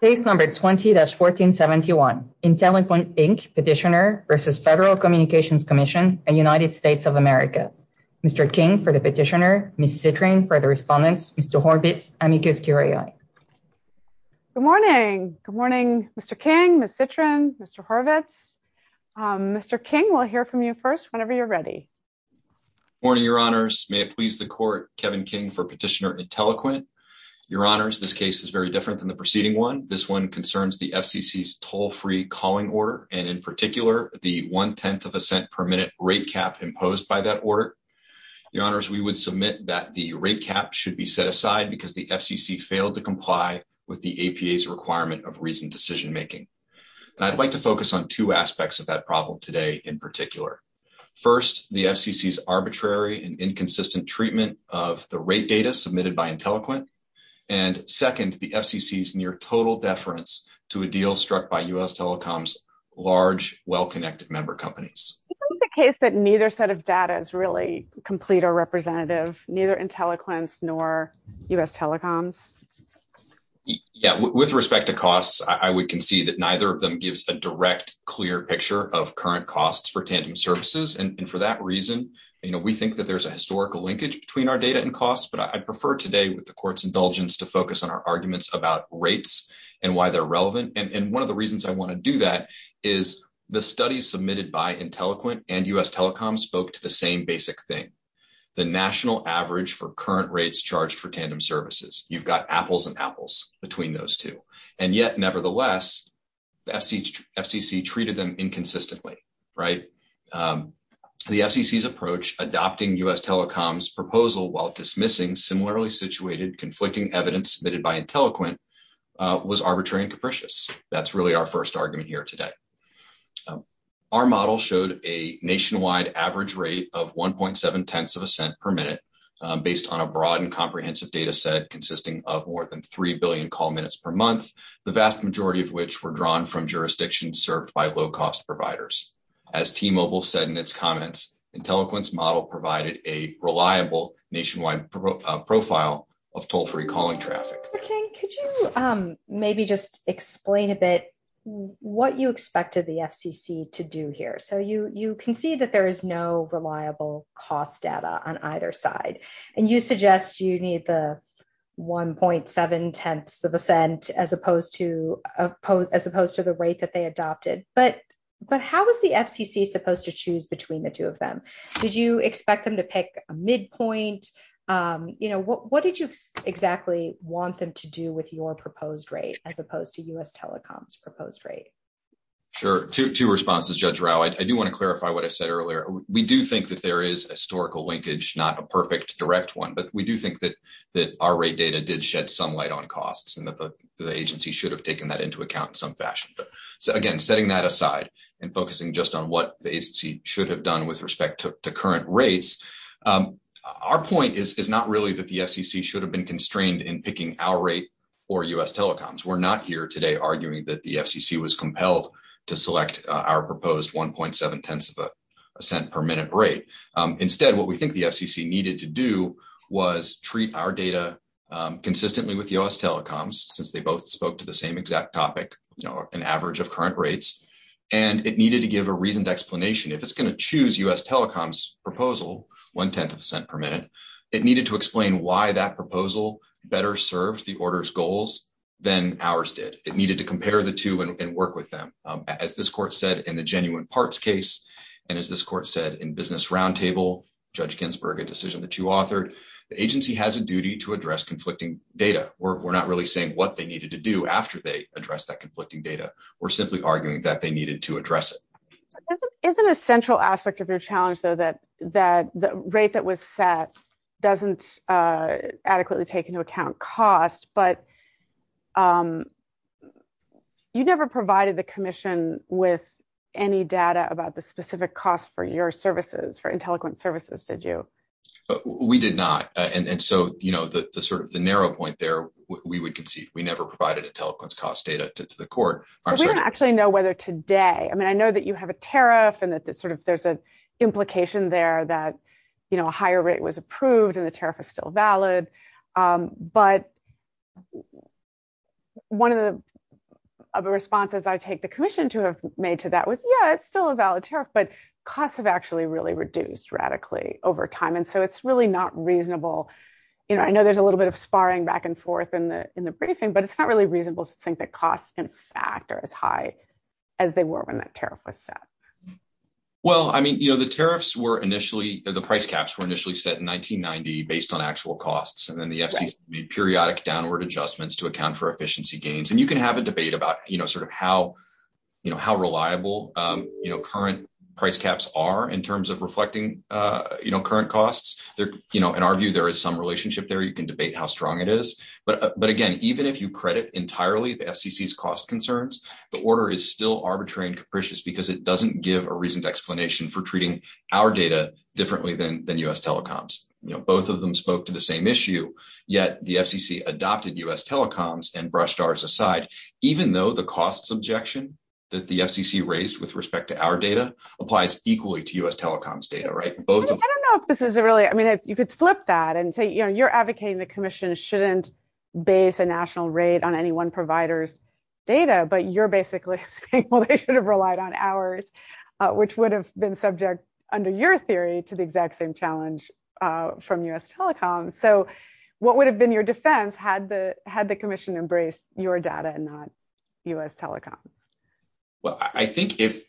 Case number 20-1471, Intelliquent, Inc. petitioner versus Federal Communications Commission and United States of America. Mr. King for the petitioner, Ms. Citrin for the respondents, Mr. Horvitz, amicus curiae. Good morning. Good morning, Mr. King, Ms. Citrin, Mr. Horvitz. Mr. King, we'll hear from you first whenever you're ready. Morning, your honors. May it please the court, Kevin King for petitioner Intelliquent. Your honors, this case is very different than the preceding one. This one concerns the FCC's toll-free calling order, and in particular, the one-tenth of a cent per minute rate cap imposed by that order. Your honors, we would submit that the rate cap should be set aside because the FCC failed to comply with the APA's requirement of reasoned decision-making. I'd like to focus on two aspects of that problem today in particular. First, the FCC's arbitrary and inconsistent treatment of the rate data submitted by Intelliquent. And second, the FCC's near total deference to a deal struck by U.S. Telecom's large, well-connected member companies. Is it the case that neither set of data is really complete or representative, neither Intelliquent's nor U.S. Telecom's? Yeah, with respect to costs, I would concede that neither of them gives a direct, clear picture of current costs for Tandem Services. And for that there's a historical linkage between our data and costs, but I'd prefer today with the court's indulgence to focus on our arguments about rates and why they're relevant. And one of the reasons I want to do that is the studies submitted by Intelliquent and U.S. Telecom spoke to the same basic thing, the national average for current rates charged for Tandem Services. You've got apples and apples between those two. And yet, nevertheless, the FCC treated them inconsistently, right? The FCC's approach, adopting U.S. Telecom's proposal while dismissing similarly situated, conflicting evidence submitted by Intelliquent, was arbitrary and capricious. That's really our first argument here today. Our model showed a nationwide average rate of 1.7 tenths of a cent per minute based on a broad and comprehensive data set consisting of more than 3 billion call minutes per month, the vast majority of which were drawn from jurisdictions served by low-cost providers. As T-Mobile said in its comments, Intelliquent's model provided a reliable nationwide profile of toll-free calling traffic. Dr. King, could you maybe just explain a bit what you expected the FCC to do here? So you can see that there is no reliable cost data on either side, and you suggest you need the 1.7 tenths as opposed to the rate that they adopted. But how was the FCC supposed to choose between the two of them? Did you expect them to pick a midpoint? What did you exactly want them to do with your proposed rate as opposed to U.S. Telecom's proposed rate? Sure. Two responses, Judge Rao. I do want to clarify what I said earlier. We do think that there is historical linkage, not a perfect direct one, but we do think that our rate data did shed some light on costs and that the agency should have taken that into account in some fashion. Again, setting that aside and focusing just on what the agency should have done with respect to current rates, our point is not really that the FCC should have been constrained in picking our rate or U.S. Telecom's. We're not here today arguing that the FCC was compelled to select our proposed 1.7 tenths of a cent per minute rate. Instead, what we think the FCC needed to do was treat our data consistently with U.S. Telecom's since they both spoke to the same exact topic, an average of current rates, and it needed to give a reasoned explanation. If it's going to choose U.S. Telecom's proposal, 1 tenth of a cent per minute, it needed to explain why that proposal better served the order's goals than ours did. It needed to compare the two and work with them. As this court said in the genuine parts case, and as this court said in business roundtable, Judge Ginsburg, a decision that you authored, the agency has a duty to address conflicting data. We're not really saying what they needed to do after they addressed that conflicting data. We're simply arguing that they needed to address it. Isn't a central aspect of your challenge though that the rate that was set doesn't adequately take into account cost, but you never provided the commission with any data about the specific cost for your services, for IntelliQuint services, did you? We did not. The narrow point there, we would concede we never provided IntelliQuint's cost data to the court. We don't actually know whether today, I mean, I know that you have a tariff and that there's an implication there that a higher rate was approved and the tariff is still valid, but one of the responses I take the commission to have made to that was, yeah, it's still a valid tariff, but costs have actually really reduced radically over time. It's really not reasonable. I know there's a little bit of sparring back and forth in the briefing, but it's not really reasonable to think that costs in fact are as high as they were when that tariff was set. Well, I mean, you know, the tariffs were initially, the price caps were initially set in 1990 based on actual costs, and then the FCC's periodic downward adjustments to account for efficiency gains. And you can have a debate about, you know, sort of how, you know, how reliable, you know, current price caps are in terms of reflecting, you know, current costs. They're, you know, in our view, there is some relationship there. You can debate how strong it is, but again, even if you credit entirely the FCC's cost concerns, the order is still arbitrary and give a reason to explanation for treating our data differently than U.S. telecoms. You know, both of them spoke to the same issue, yet the FCC adopted U.S. telecoms and brushed ours aside, even though the costs objection that the FCC raised with respect to our data applies equally to U.S. telecoms data, right? I don't know if this is really, I mean, you could flip that and say, you know, you're advocating the commission shouldn't base a national rate on any one provider's data, but you're basically saying, well, they should have relied on ours, which would have been subject under your theory to the exact same challenge from U.S. telecoms. So what would have been your defense had the commission embraced your data and not U.S. telecom? Well, I think if,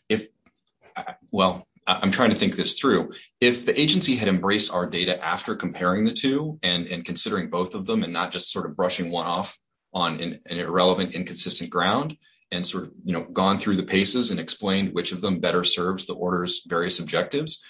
well, I'm trying to think this through. If the agency had embraced our data after comparing the two and considering both of them and not just sort of brushing one off on an irrelevant, inconsistent ground and sort of, you know, gone through the paces and explained which of them better serves the order's various objectives,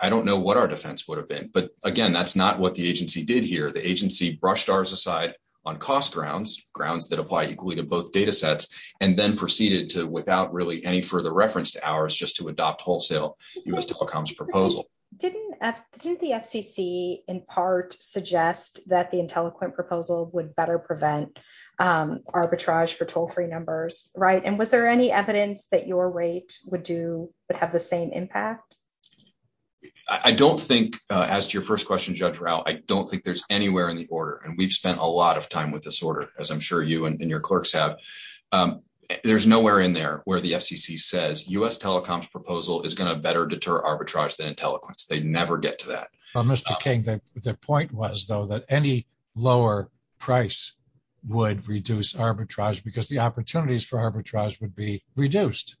I don't know what our defense would have been. But again, that's not what the agency did here. The agency brushed ours aside on cost grounds, grounds that apply equally to both data sets, and then proceeded to, without really any further reference to ours, just to adopt wholesale U.S. telecoms proposal. Didn't the FCC in part suggest that the IntelliQuint proposal would better prevent arbitrage for toll-free numbers, right? And was there any evidence that your rate would do, would have the same impact? I don't think, as to your first question, Judge Rao, I don't think there's anywhere in the order, and we've spent a lot of time with this order, as I'm sure you and your clerks have. There's nowhere in there where the FCC says U.S. telecoms proposal is going to better deter arbitrage than that. Mr. King, the point was, though, that any lower price would reduce arbitrage, because the opportunities for arbitrage would be reduced.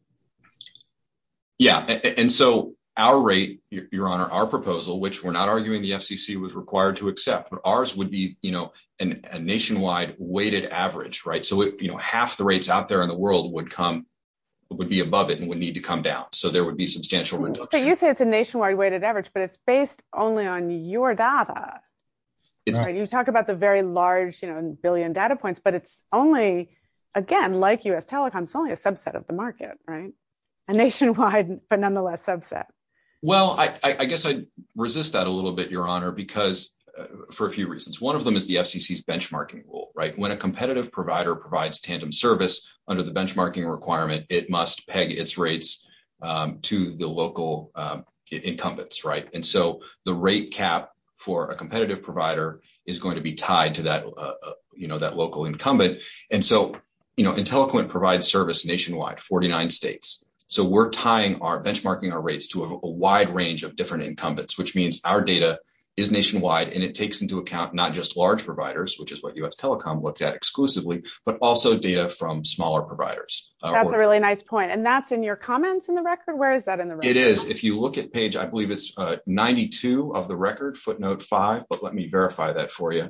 Yeah, and so our rate, Your Honor, our proposal, which we're not arguing the FCC was required to accept, but ours would be, you know, a nationwide weighted average, right? So, you know, half the rates out there in the world would come, would be above it and would need to come down. So there would be substantial You say it's a nationwide weighted average, but it's based only on your data. You talk about the very large, you know, billion data points, but it's only, again, like U.S. telecoms, only a subset of the market, right? A nationwide, but nonetheless subset. Well, I guess I resist that a little bit, Your Honor, because, for a few reasons. One of them is the FCC's benchmarking rule, right? When a competitive provider provides tandem service under the benchmarking requirement, it must peg its rates to the local incumbents, right? And so the rate cap for a competitive provider is going to be tied to that, you know, that local incumbent. And so, you know, IntelliQuint provides service nationwide, 49 states. So we're tying our, benchmarking our rates to a wide range of different incumbents, which means our data is nationwide and it takes into account not just large providers, which is what U.S. telecom looked at exclusively, but also data from smaller providers. That's a really nice point. And that's in your comments in the record? Where is that in the record? It is. If you look at page, I believe it's 92 of the record footnote five, but let me verify that for you.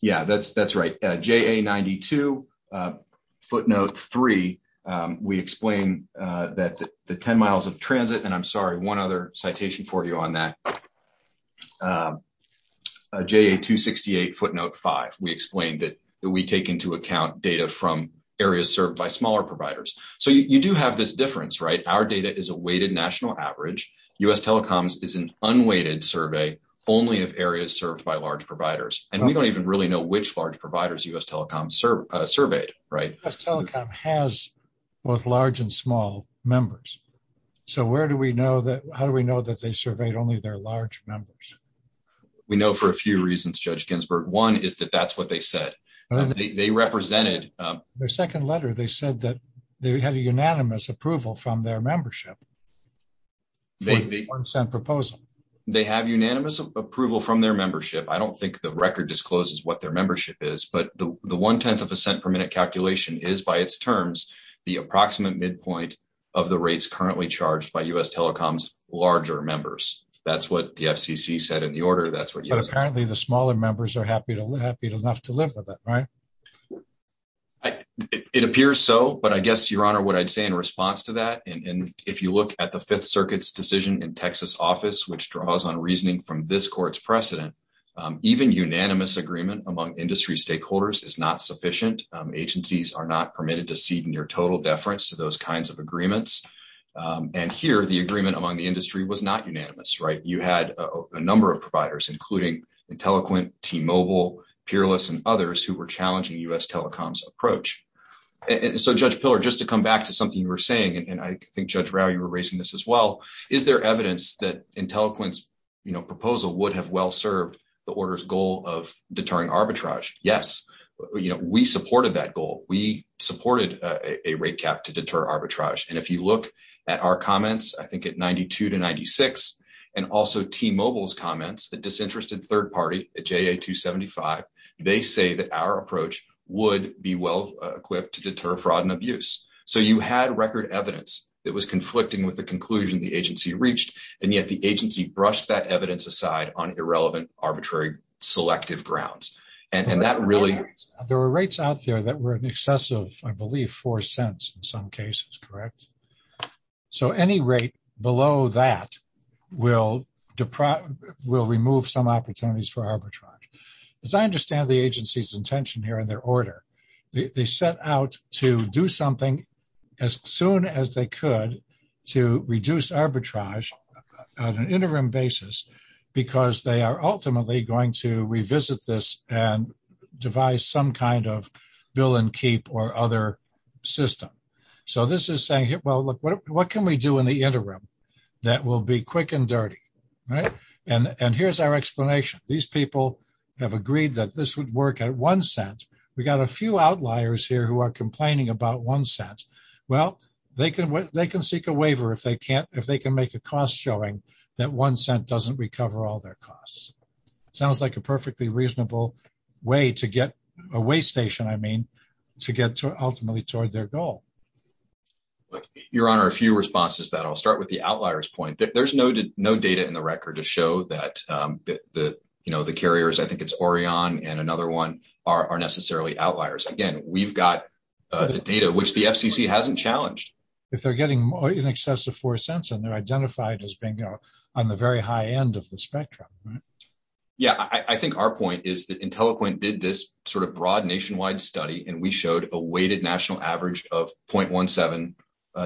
Yeah, that's right. JA92 footnote three. We explain that the 10 miles of transit, and I'm sorry, one other citation for you on that. JA268 footnote five, we explained that we take into account data from areas served by smaller providers. So you do have this difference, right? Our data is a weighted national average. U.S. telecoms is an unweighted survey only of areas served by large providers. And we don't even really know which large providers U.S. telecom surveyed, right? U.S. telecom has both large and only their large numbers. We know for a few reasons, Judge Ginsburg. One is that that's what they said. They represented, their second letter, they said that they had a unanimous approval from their membership. They have unanimous approval from their membership. I don't think the record discloses what their membership is, but the one 10th of a cent per minute calculation is by its terms, the approximate midpoint of the rates currently charged by U.S. telecom's larger members. That's what the FCC said in the order. But apparently the smaller members are happy enough to live with it, right? It appears so, but I guess, Your Honor, what I'd say in response to that, and if you look at the Fifth Circuit's decision in Texas office, which draws on reasoning from this court's precedent, even unanimous agreement among industry stakeholders is not sufficient. Agencies are not permitted to cede near total deference to those kinds of agreements. And here, the agreement among the industry was not unanimous, right? You had a number of providers, including IntelliQuint, T-Mobile, Peerless, and others who were challenging U.S. telecom's approach. And so, Judge Pillar, just to come back to something you were saying, and I think Judge Rau, you were raising this as well, is there evidence that IntelliQuint's proposal would have well served the order's goal of deterring arbitrage? Yes. We supported that arbitrage. And if you look at our comments, I think at 92 to 96, and also T-Mobile's comments, the disinterested third party at JA-275, they say that our approach would be well equipped to deter fraud and abuse. So, you had record evidence that was conflicting with the conclusion the agency reached, and yet the agency brushed that evidence aside on irrelevant, arbitrary, selective grounds. And that really… There were rates out there that were in excess of, I believe, four cents in some cases, correct? So, any rate below that will remove some opportunities for arbitrage. As I understand the agency's intention here and their order, they set out to do something as soon as they could to reduce arbitrage on an interim basis because they are ultimately going to revisit this and devise some kind of bill and keep or other system. So, this is saying, well, look, what can we do in the interim that will be quick and dirty, right? And here's our explanation. These people have agreed that this would work at one cent. We got a few outliers here who are complaining about one cent. Well, they can seek a waiver if they can make a cost showing that one cent doesn't recover all their costs. Sounds like a perfectly reasonable way to get a way station, I mean, to get to ultimately toward their goal. Your Honor, a few responses to that. I'll start with the outliers point. There's no data in the record to show that the carriers, I think it's Orion and another one, are necessarily outliers. Again, we've got the data, which the FCC hasn't challenged. If they're getting in excess of four cents and identified as being on the very high end of the spectrum. Yeah, I think our point is that IntelliPoint did this sort of broad nationwide study and we showed a weighted national average of 0.17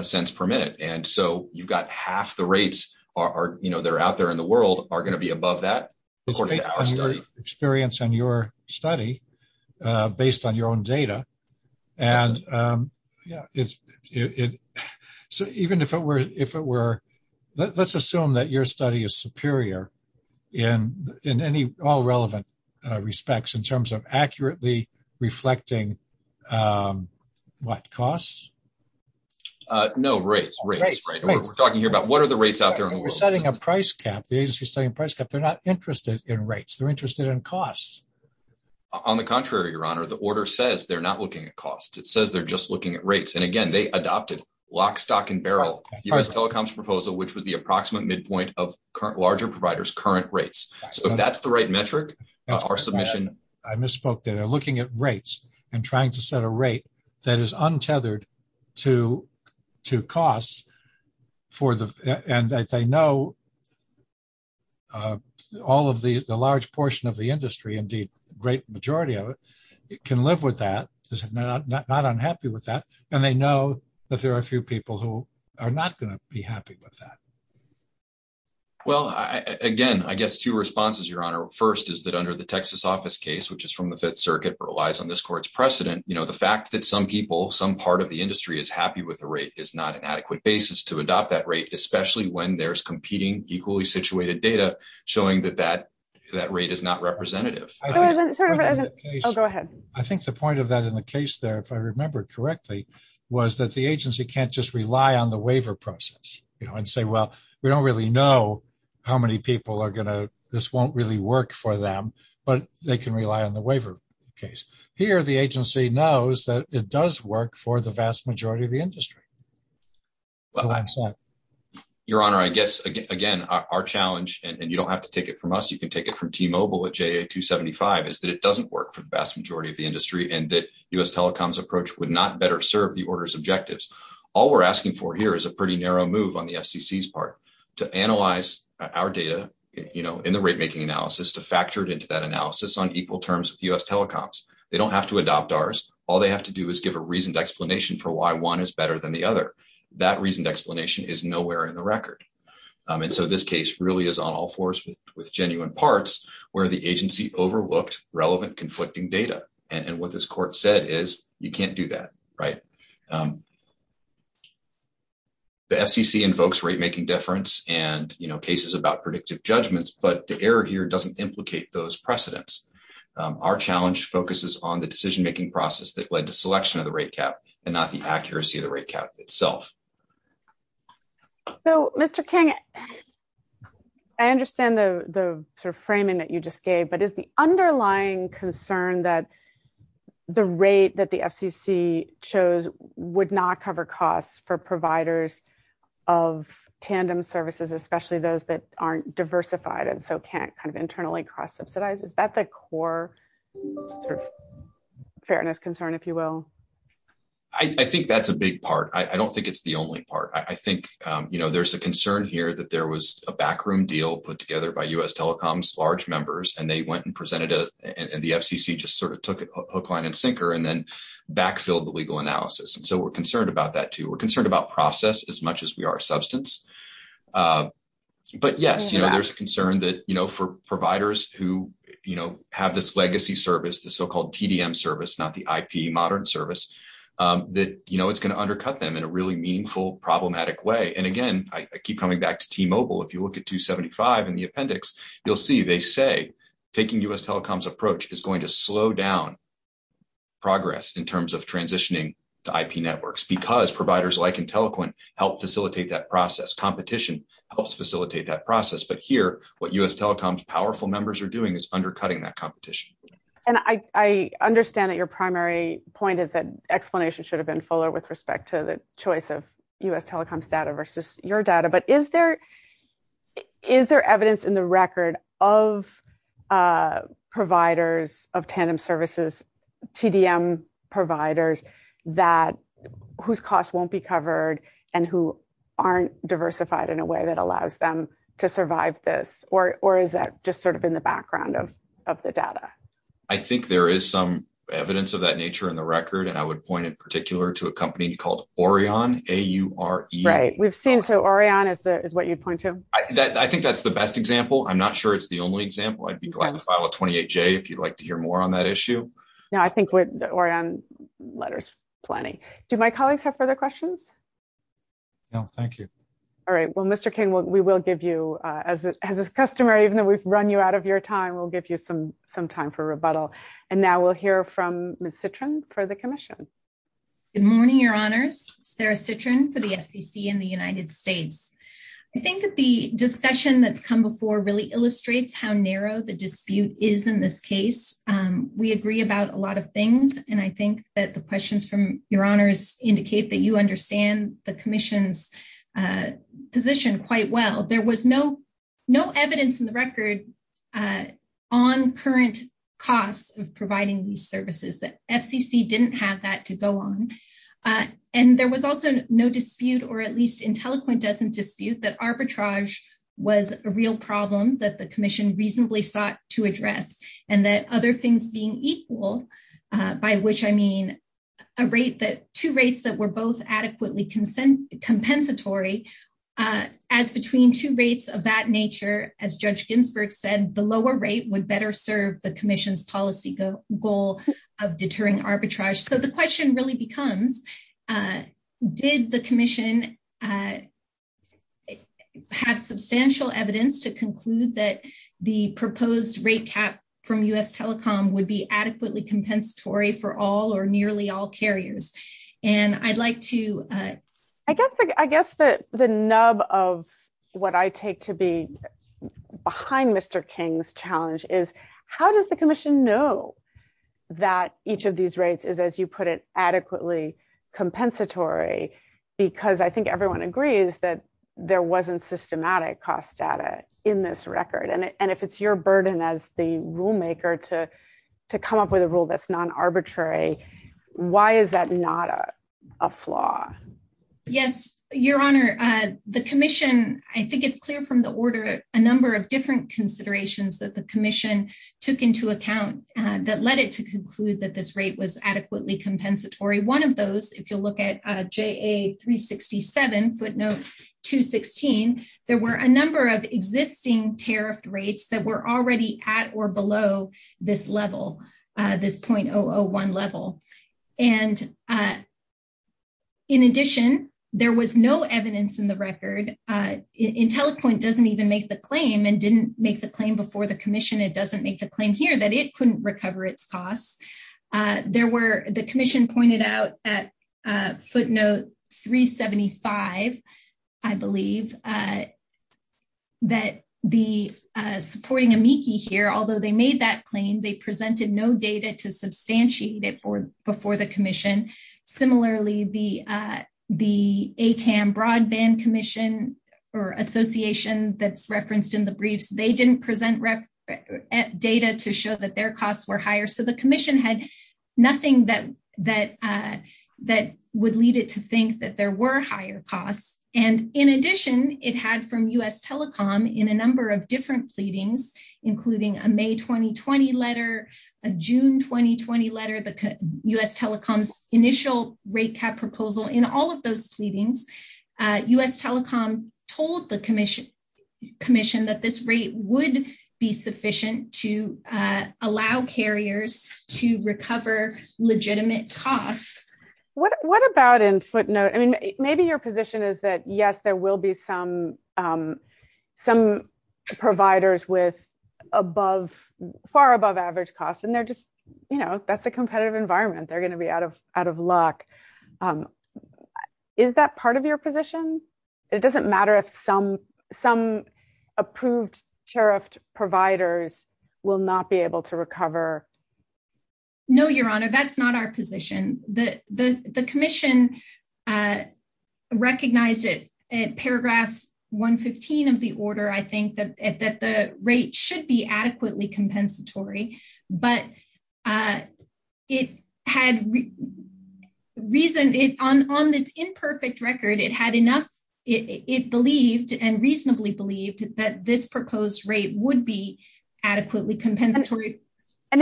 cents per minute. And so, you've got half the rates that are out there in the world are going to be above that. It's based on your experience and your study, based on your own data. And yeah, so even if it were, let's assume that your study is superior in any all relevant respects in terms of accurately reflecting what costs? No, rates. We're talking here about what are the rates out there in the world? You're setting a price cap. The agency is setting a price cap. They're not interested in rates. They're interested in costs. On the contrary, the order says they're not looking at costs. It says they're just looking at rates. And again, they adopted lock, stock and barrel US telecoms proposal, which was the approximate midpoint of current larger providers, current rates. So if that's the right metric, that's our submission. I misspoke there. They're looking at rates and trying to set a rate that is untethered to costs for the, and I say, no, all of the, the large portion of the industry, indeed, the great majority of it can live with that. They're not unhappy with that. And they know that there are a few people who are not going to be happy with that. Well, again, I guess two responses, your honor. First is that under the Texas office case, which is from the fifth circuit relies on this court's precedent. The fact that some people, some part of the industry is happy with the rate is not an adequate basis to adopt that rate, especially when there's competing equally situated data showing that that that rate is not representative. I think the point of that in the case there, if I remember correctly, was that the agency can't just rely on the waiver process, you know, and say, well, we don't really know how many people are going to, this won't really work for them, but they can rely on the waiver case here. The agency knows that it does work for the vast majority of the industry. Your honor, I guess, again, our challenge and you don't have to take it from us. You can take it from T-Mobile at JA-275 is that it doesn't work for the vast majority of the industry and that us telecoms approach would not better serve the order's objectives. All we're asking for here is a pretty narrow move on the FCC's part to analyze our data, you know, in the rate making analysis, to factor it into that analysis on equal terms with US telecoms. They don't have to adopt ours. All they have to do is give a reasoned explanation for why one is better than the other. That reasoned explanation is nowhere in the record. And so this case really is on all fours with genuine parts where the agency overlooked relevant conflicting data. And what this court said is you can't do that, right? The FCC invokes rate making difference and, you know, cases about judgments, but the error here doesn't implicate those precedents. Our challenge focuses on the decision making process that led to selection of the rate cap and not the accuracy of the rate cap itself. So, Mr. King, I understand the sort of framing that you just gave, but is the underlying concern that the rate that the FCC chose would not cover costs for providers of tandem services, especially those that aren't diversified and so can't kind of internally cross-subsidize? Is that the core sort of fairness concern, if you will? I think that's a big part. I don't think it's the only part. I think, you know, there's a concern here that there was a backroom deal put together by US telecoms, large members, and they went and presented it and the FCC just sort of took it hook, line, and sinker and then backfilled the legal analysis. And so we're concerned about that too. We're concerned about process as much as we are substance. But yes, you know, there's a concern that, you know, for providers who, you know, have this legacy service, the so-called TDM service, not the IP modern service, that, you know, it's going to undercut them in a really meaningful, problematic way. And again, I keep coming back to T-Mobile. If you look at 275 in the appendix, you'll see they say taking US telecoms approach is going to slow down progress in terms of transitioning to IP networks because providers like IntelliQuint help facilitate that process. Competition helps facilitate that process. But here, what US telecoms powerful members are doing is undercutting that competition. And I understand that your primary point is that explanation should have been fuller with respect to the choice of US telecoms data versus your data. But is there, is there evidence in the record of providers of tandem services, TDM providers whose costs won't be covered and who aren't diversified in a way that allows them to survive this? Or is that just sort of in the background of the data? I think there is some evidence of that nature in the record. And I would point in particular to a company called Orion, A-U-R-E. Right. We've seen, so Orion is what you'd point to? I think that's the best example. I'm not sure it's the only example. I'd be glad to file a 28J if you'd like to hear more on that issue. No, I think we're on letters plenty. Do my colleagues have further questions? No, thank you. All right. Well, Mr. King, we will give you, as a customer, even though we've run you out of your time, we'll give you some, some time for rebuttal. And now we'll hear from Ms. Citrin for the commission. Good morning, your honors. Sarah Citrin for the FCC in the United States. I think that the discussion that's come before really illustrates how narrow the dispute is in this case. We agree about a lot of things. And I think that the questions from your honors indicate that you understand the commission's position quite well. There was no, no evidence in the record on current costs of providing these services, that FCC didn't have that to go on. And there was also no dispute, or at least IntelliQuint doesn't dispute that arbitrage was a real problem that the commission reasonably sought to address. And that other things being equal, by which I mean, a rate that two rates that were both adequately consent compensatory, as between two rates of that nature, as Judge Ginsburg said, the lower rate would better serve the commission's policy goal of deterring arbitrage. So the question really becomes, did the commission have substantial evidence to conclude that the proposed rate cap from US Telecom would be adequately compensatory for all or nearly all carriers? And I'd like to- I guess the nub of what I take to be behind Mr. King's challenge is, how does the commission know that each of these rates is, as you put it, adequately compensatory? Because I think everyone agrees that there wasn't systematic cost data in this record. And if it's your burden as the rulemaker to come up with a rule that's non-arbitrary, why is that not a flaw? Yes, your honor, the commission, I think it's clear from the order, a number of different led it to conclude that this rate was adequately compensatory. One of those, if you'll look at JA 367 footnote 216, there were a number of existing tariff rates that were already at or below this level, this 0.001 level. And in addition, there was no evidence in the record, IntelliPoint doesn't even make the claim and didn't make the claim before the commission, it doesn't make the claim here that it couldn't recover its costs. The commission pointed out at footnote 375, I believe, that the supporting amici here, although they made that claim, they presented no data to substantiate it before the commission. Similarly, the ACAM broadband commission or association that's referenced in the briefs, they didn't present data to show that their costs were higher. So the commission had nothing that would lead it to think that there were higher costs. And in addition, it had from US Telecom in a number of different pleadings, including a May 2020 letter, a June 2020 letter, the US Telecom's initial rate cap proposal. In all of those pleadings, US Telecom told the commission that this rate would be sufficient to allow carriers to recover legitimate costs. What about in footnote, I mean, maybe your position is that yes, there will be some providers with above, far above average costs. And they're just, you know, that's a competitive environment, they're going to be out of out of luck. Is that part of your position? It doesn't mean that the tariffed providers will not be able to recover? No, Your Honor, that's not our position that the commission recognized it at paragraph 115 of the order, I think that the rate should be adequately compensatory. But it had reason it on this imperfect record, it had enough, it believed and reasonably believed that this proposed rate would be adequately compensatory. And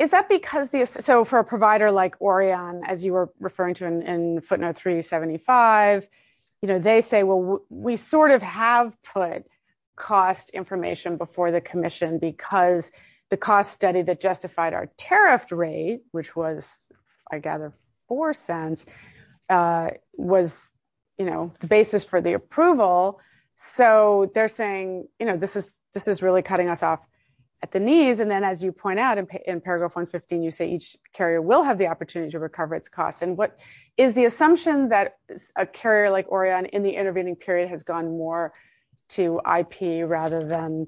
is that because the so for a provider like Orion, as you were referring to in footnote 375, you know, they say, well, we sort of have put cost information before the commission, because the cost study that justified our tariff rate, which was, I gather, 4 cents was, you know, the basis for the approval. So they're saying, you know, this is this is really cutting us off at the knees. And then as you point out, in paragraph 115, you say each carrier will have the opportunity to recover its costs. And what is the assumption that a carrier like Orion in the intervening period has gone more to IP rather than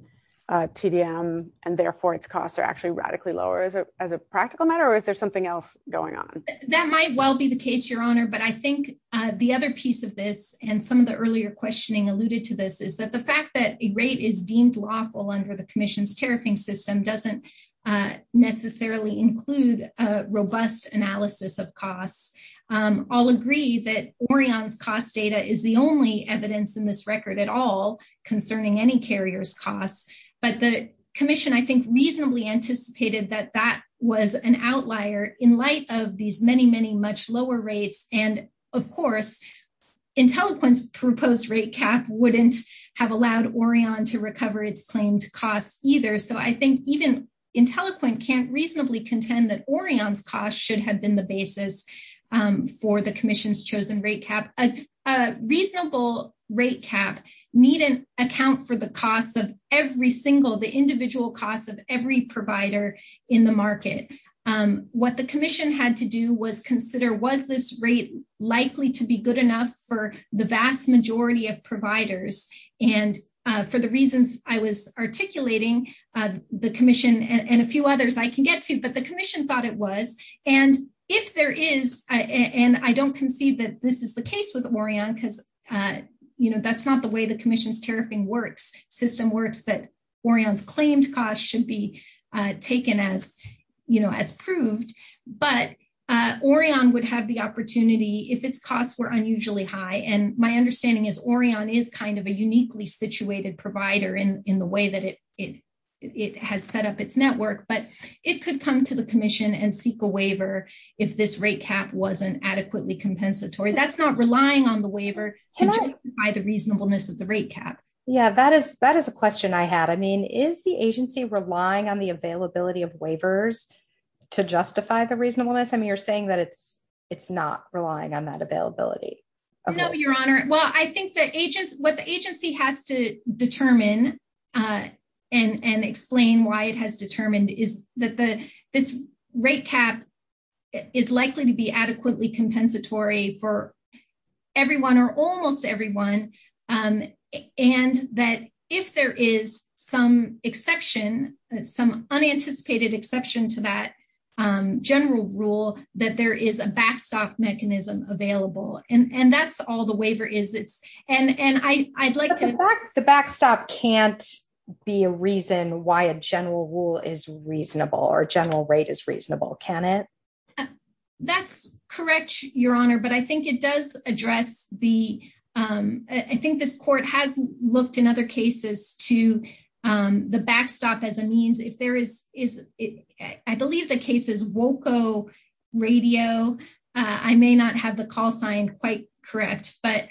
and therefore, its costs are actually radically lower as a as a practical matter? Or is there something else going on? That might well be the case, Your Honor. But I think the other piece of this and some of the earlier questioning alluded to this is that the fact that a rate is deemed lawful under the commission's tariffing system doesn't necessarily include a robust analysis of costs. I'll agree that Orion's cost data is the only evidence in this record at all commission, I think reasonably anticipated that that was an outlier in light of these many, many much lower rates. And, of course, intelligence proposed rate cap wouldn't have allowed Orion to recover its claimed costs either. So I think even intelligent can't reasonably contend that Orion's cost should have been the basis for the commission's chosen rate cap, a reasonable rate cap need an account for the individual costs of every provider in the market. What the commission had to do was consider was this rate likely to be good enough for the vast majority of providers. And for the reasons I was articulating the commission and a few others I can get to, but the commission thought it was. And if there is, and I don't concede that this is the case with Orion, because, you know, that's that Orion's claimed costs should be taken as, you know, as proved, but Orion would have the opportunity if its costs were unusually high. And my understanding is Orion is kind of a uniquely situated provider in the way that it has set up its network, but it could come to the commission and seek a waiver if this rate cap wasn't adequately compensatory. That's not relying on the waiver to justify the reasonableness of the rate cap. Yeah, that is a question I had. I mean, is the agency relying on the availability of waivers to justify the reasonableness? I mean, you're saying that it's not relying on that availability? No, Your Honor. Well, I think what the agency has to determine and explain why it has determined is that this rate cap is likely to be adequately compensatory for everyone or almost everyone. And that if there is some exception, some unanticipated exception to that general rule, that there is a backstop mechanism available. And that's all the waiver is. And I'd like to- But the backstop can't be a reason why a general rule is reasonable or a general rate is reasonable, can it? That's correct, Your Honor. But I think it does address the- I think this court has looked in other cases to the backstop as a means if there is- I believe the case is Woco Radio. I may not have the call signed quite correct. But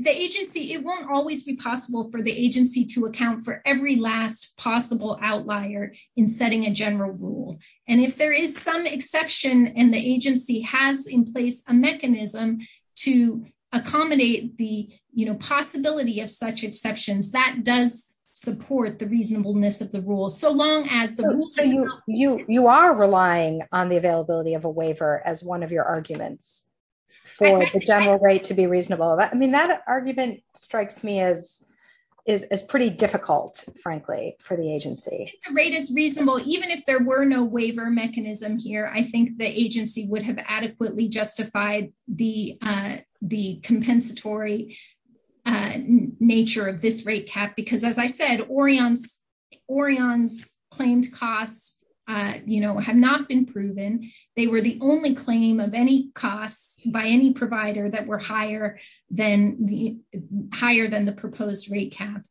the agency, it won't always be possible for the agency to account for every last possible outlier in setting a general rule. And if there is some exception and the agency has in place a mechanism to accommodate the possibility of such exceptions, that does support the reasonableness of the rule. So long as the rule- So you are relying on the availability of a waiver as one of your arguments for the general rate to be reasonable. I mean, that argument strikes me as pretty difficult, frankly, for the agency. If the rate is reasonable, even if there were no waiver mechanism here, I think the agency would have adequately justified the compensatory nature of this rate cap. Because as I said, Orion's claimed costs have not been proven. They were the only claim of any costs by any provider that were higher than the proposed rate cap.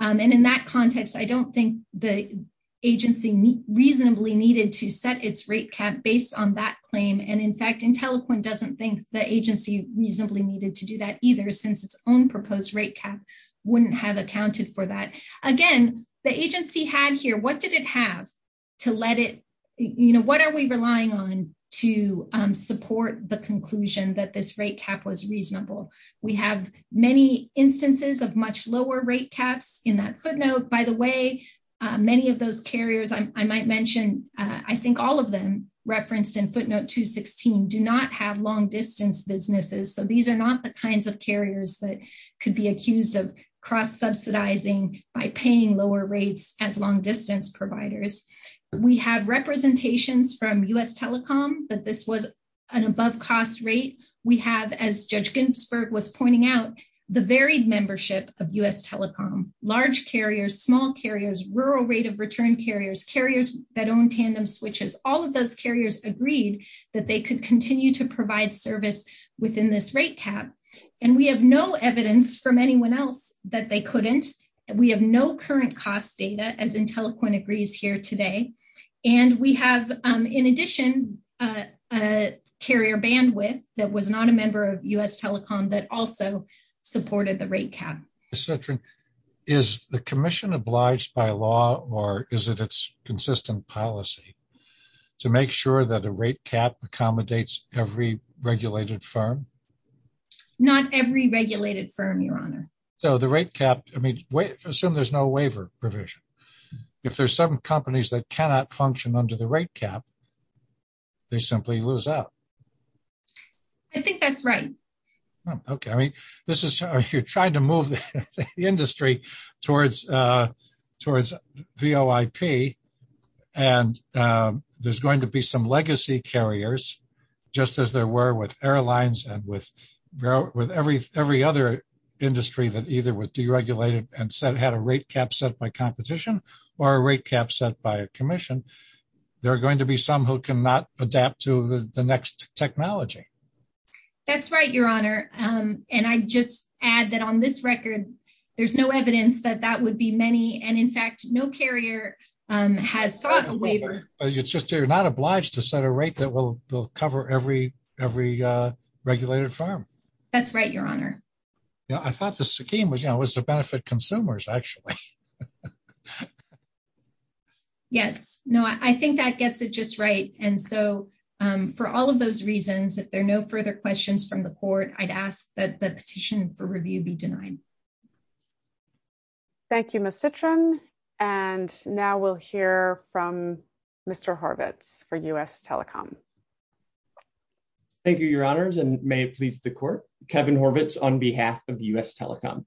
And in that context, I don't think the agency reasonably needed to set its rate cap based on that claim. And in fact, IntelliCoin doesn't think the agency reasonably needed to do that either, since its own proposed rate cap wouldn't have accounted for that. Again, the agency had here, what did it have to let it, you know, what are we relying on to support the conclusion that this rate cap was reasonable? We have many instances of much lower rate caps in that footnote. By the way, many of those carriers, I might mention, I think all of them referenced in footnote 216, do not have long distance businesses. So these are not the kinds of carriers that could be accused of cross-subsidizing by paying lower rates as long distance providers. We have representations from U.S. Telecom that this was an above cost rate. We have, as Judge Ginsburg was pointing out, the varied membership of U.S. Telecom, large carriers, small carriers, rural rate of return carriers, carriers that own tandem switches, all of those carriers agreed that they could continue to provide service within this rate cap. And we have no evidence from anyone else that they couldn't. We have no current cost data, as IntelliCoin agrees here today. And we have, in addition, a carrier bandwidth that was not a member of U.S. Telecom that also supported the rate cap. Senator, is the commission obliged by law or is it its consistent policy to make sure that a rate cap accommodates every regulated firm? Not every regulated firm, Your Honor. So the rate cap, I mean, assume there's no waiver provision. If there's some companies that cannot function under the rate cap, they simply lose out. I think that's right. Okay. I mean, this is, you're trying to move the industry towards VOIP. And there's going to be some legacy carriers, just as there were with airlines and with every other industry that either was deregulated and had a rate cap set by competition or a rate cap set by a commission. There are going to be some who cannot adapt to the next technology. That's right, Your Honor. And I just add that on this record, there's no evidence that that would be many. And in fact, no carrier has thought of waiver. It's just you're not obliged to set a rate that will cover every regulated firm. That's right, Your Honor. I thought the scheme was to benefit consumers, actually. Yes. No, I think that gets it just right. And so for all of those reasons, if there are no further questions from the court, I'd ask that the petition for review be denied. Thank you, Ms. Citrin. And now we'll hear from Mr. Horvitz for U.S. Telecom. Thank you, Your Honors, and may it please the court. Kevin Horvitz on behalf of U.S. Telecom.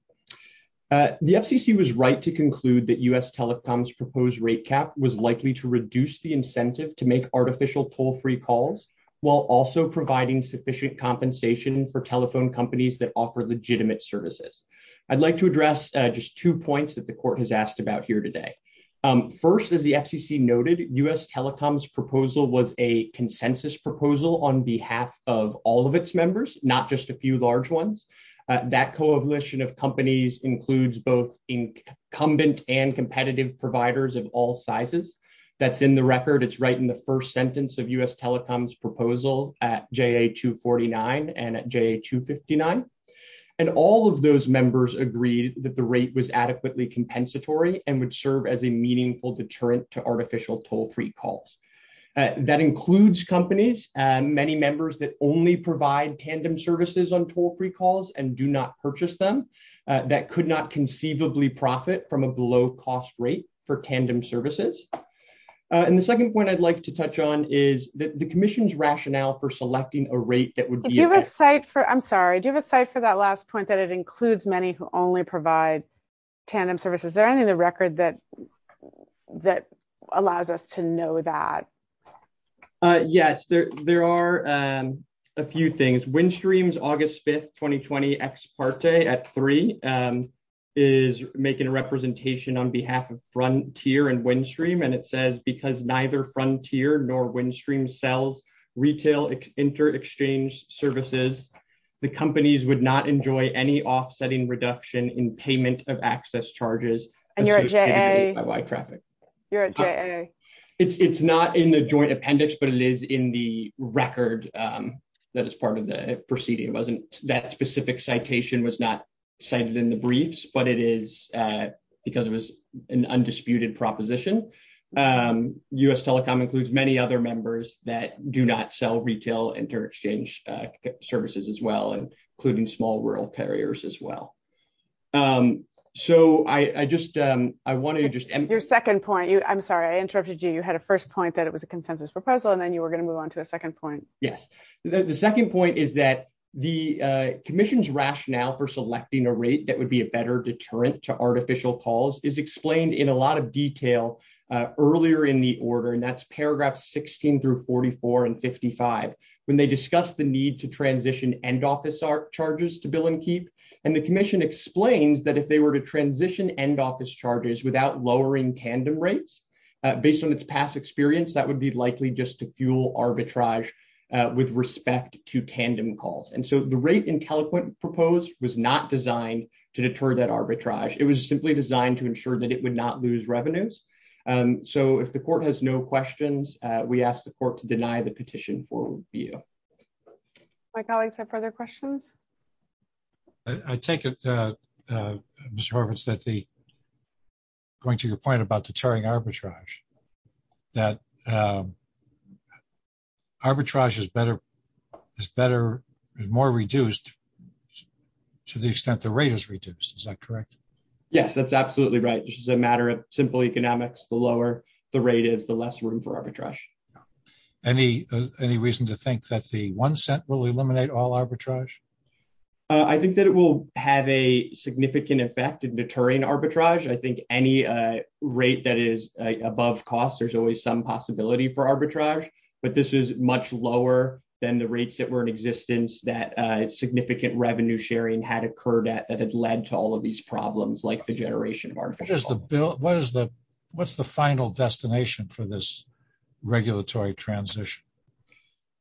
The FCC was right to conclude that U.S. Telecom's proposed rate cap was likely to reduce the incentive to make artificial toll-free calls while also providing sufficient compensation for telephone companies that offer legitimate services. I'd like to address just two points that the court has asked about here today. First, as the FCC noted, U.S. Telecom's proposal was a consensus proposal on behalf of all of its members, not just a few large ones. That coalition of companies includes both incumbent and competitive providers of all sizes. That's in the record. It's right in the first sentence of U.S. Telecom's proposal at JA-249 and at JA-259. And all of those members agreed that the rate was adequately compensatory and would serve as a meaningful deterrent to artificial toll-free calls. That includes companies, many members that only provide tandem services on toll-free calls and do not purchase them, that could not conceivably profit from a below-cost rate for tandem services. And the second point I'd like to touch on is the commission's rationale for selecting a rate that would be... Do you have a cite for, I'm sorry, do you have a cite for that last point that it includes many who only provide tandem services? Is there Windstream's August 5th, 2020 ex parte at three is making a representation on behalf of Frontier and Windstream. And it says, because neither Frontier nor Windstream sells retail inter-exchange services, the companies would not enjoy any offsetting reduction in payment of access charges. And you're at JA? It's not in the joint appendix, but it is in the record that is part of the proceeding. That specific citation was not cited in the briefs, but it is because it was an undisputed proposition. US Telecom includes many other members that do not sell retail inter-exchange services as well, including small rural carriers as well. So I just, I wanted to just... Your second point, I'm sorry, I interrupted you. You had a first point that it was a consensus proposal, and then you were going to move on to a second point. Yes. The second point is that the commission's rationale for selecting a rate that would be a better deterrent to artificial calls is explained in a lot of detail earlier in the order, and that's paragraphs 16 through 44 and 55, when they discuss the need to transition end office charges to bill and keep. And the commission explains that if they were to transition end office charges without lowering tandem rates, based on its past experience, that would be likely just to fuel arbitrage with respect to tandem calls. And so the rate IntelliQuint proposed was not designed to deter that arbitrage. It was simply designed to ensure that it would not lose revenues. So if the court has no questions, we ask the court to deny the petition for review. My colleagues have further questions. I take it, Mr. Horvitz, that the... Going to your point about deterring arbitrage, that arbitrage is better, is better, is more reduced to the extent the rate is reduced. Is that correct? Yes, that's absolutely right. It's just a matter of simple economics. The lower the rate is, the less room for arbitrage. Any reason to think that the one cent will eliminate all arbitrage? I think that it will have a significant effect in deterring arbitrage. I think any rate that is above cost, there's always some possibility for arbitrage, but this is much lower than the rates that were in existence that significant revenue sharing had occurred at that had led to all of these problems, like the generation of artificial calls. What's the final destination for this regulatory transition?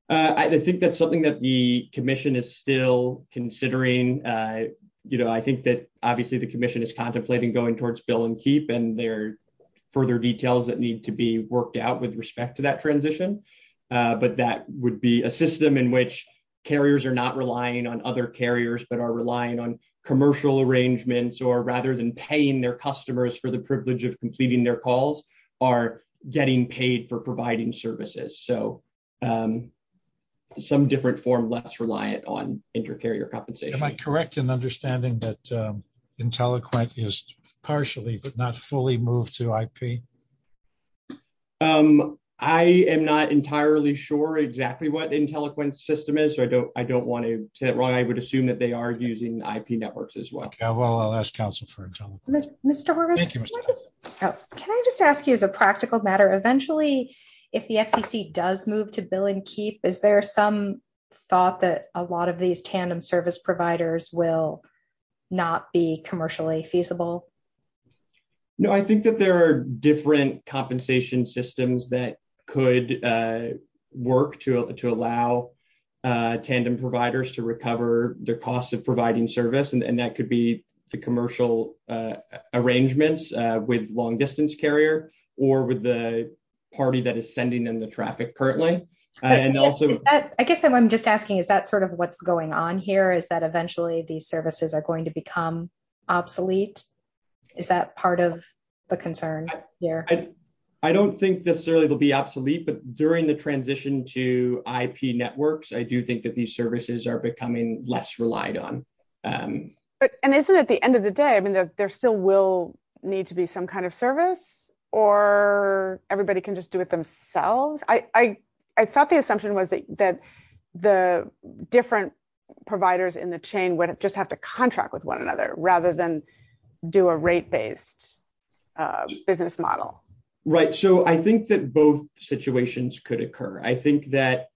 I think that's something that the commission is still considering. I think that, obviously, the commission is contemplating going towards bill and keep, and there are further details that need to be worked out with respect to that transition, but that would be a system in which carriers are not relying on other carriers, but are relying on commercial arrangements, or rather than paying their customers for the privilege of completing their calls, are getting paid for providing services. Some different form less reliant on inter-carrier compensation. Am I correct in understanding that IntelliQuint is partially, but not fully moved to IP? I am not entirely sure exactly what IntelliQuint's system is, so I don't want to assume that they are using IP networks as well. I'll ask counsel for an example. Can I just ask you as a practical matter, eventually, if the FCC does move to bill and keep, is there some thought that a lot of these tandem service providers will not be commercially feasible? No, I think that there are different costs of providing service, and that could be the commercial arrangements with long-distance carrier, or with the party that is sending in the traffic currently. I guess I'm just asking, is that sort of what's going on here? Is that eventually these services are going to become obsolete? Is that part of the concern here? I don't think necessarily they'll be obsolete, but during the transition to IP networks, I do think that these services are becoming less relied on. And isn't it at the end of the day, there still will need to be some kind of service, or everybody can just do it themselves? I thought the assumption was that the different providers in the chain would just have to contract with one another, rather than do a rate-based business model. Right, so I think that both situations could occur. I think that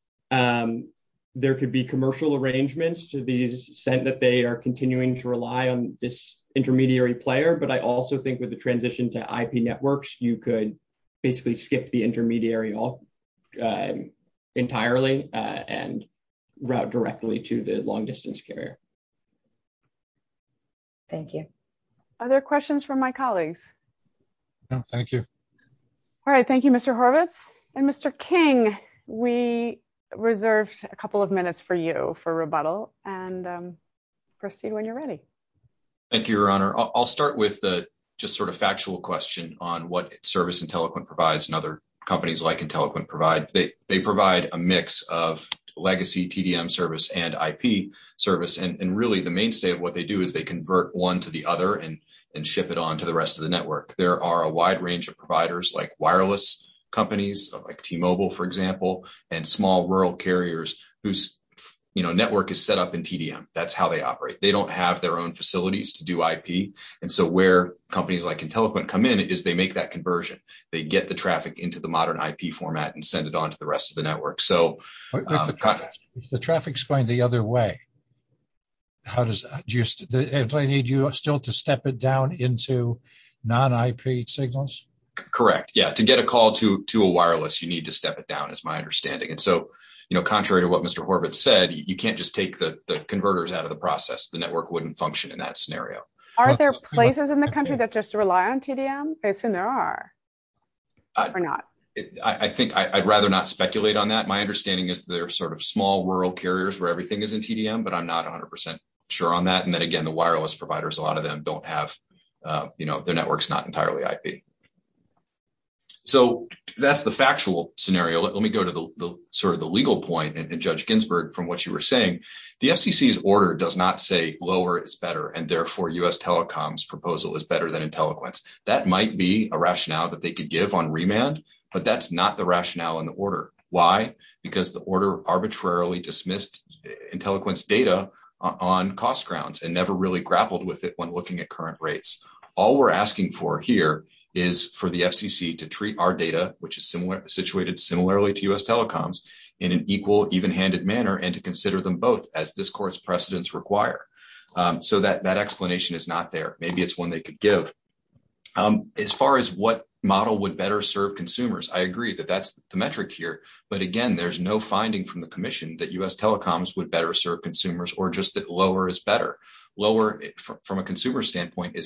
there could be commercial arrangements to the extent that they are continuing to rely on this intermediary player, but I also think with the transition to IP networks, you could basically skip the intermediary entirely and route directly to the long-distance carrier. Thank you. Other questions from my colleagues? No, thank you. All right, thank you, Mr. Horvitz. And Mr. King, we reserved a couple of minutes for you for rebuttal, and proceed when you're ready. Thank you, Your Honor. I'll start with the just sort of factual question on what Service IntelliQuint provides and other companies like IntelliQuint provide. They provide a mix of legacy TDM service and IP service, and really the mainstay of what they do is they convert one to the other and ship it on to the wireless companies like T-Mobile, for example, and small rural carriers whose network is set up in TDM. That's how they operate. They don't have their own facilities to do IP, and so where companies like IntelliQuint come in is they make that conversion. They get the traffic into the modern IP format and send it on to the rest of the network. If the traffic's going the other way, do I need you still to step it down into non-IP signals? Correct, yeah. To get a call to a wireless, you need to step it down, is my understanding. And so contrary to what Mr. Horvitz said, you can't just take the converters out of the process. The network wouldn't function in that scenario. Are there places in the country that just rely on TDM? I assume there are, or not. I think I'd rather not speculate on that. My understanding is they're sort of small rural carriers where everything is in TDM, but I'm not 100% sure on that. And then again, the wireless providers, a lot of them don't have, their network's not in TDM. So that's the factual scenario. Let me go to sort of the legal point, and Judge Ginsburg, from what you were saying. The FCC's order does not say lower is better, and therefore U.S. Telecom's proposal is better than IntelliQuint's. That might be a rationale that they could give on remand, but that's not the rationale in the order. Why? Because the order arbitrarily dismissed IntelliQuint's data on cost grounds and never really grappled with it when looking at current rates. All we're asking for here is for the FCC to treat our data, which is situated similarly to U.S. Telecom's, in an equal, even-handed manner and to consider them both as this court's precedents require. So that explanation is not there. Maybe it's one they could give. As far as what model would better serve consumers, I agree that that's the metric here. But again, there's no finding from the commission that U.S. Telecom's would better serve consumers or just that lower is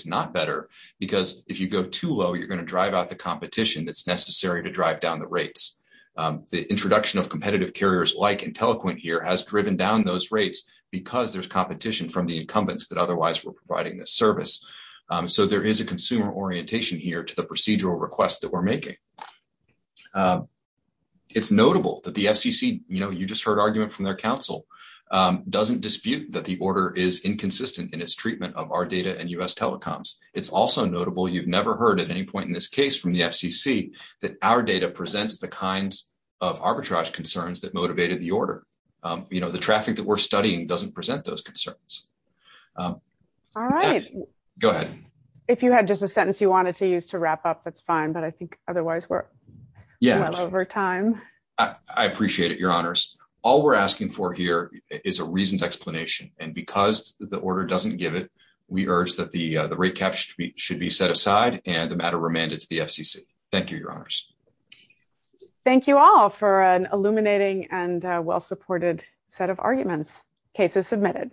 not better because if you go too low, you're going to drive out the competition that's necessary to drive down the rates. The introduction of competitive carriers like IntelliQuint here has driven down those rates because there's competition from the incumbents that otherwise were providing this service. So there is a consumer orientation here to the procedural requests that we're making. It's notable that the FCC, you know, you just heard argument from their counsel, doesn't dispute that the order is inconsistent in its treatment of our data and U.S. Telecom's. It's also notable, you've never heard at any point in this case from the FCC, that our data presents the kinds of arbitrage concerns that motivated the order. You know, the traffic that we're studying doesn't present those concerns. All right. Go ahead. If you had just a sentence you wanted to use to wrap up, that's fine, but I think otherwise we're well over time. I appreciate it, your honors. All we're asking for here is a reasoned explanation. And because the order doesn't give it, we urge that the rate cap should be set aside and the matter remanded to the FCC. Thank you, your honors. Thank you all for an illuminating and well-supported set of arguments. Case is submitted.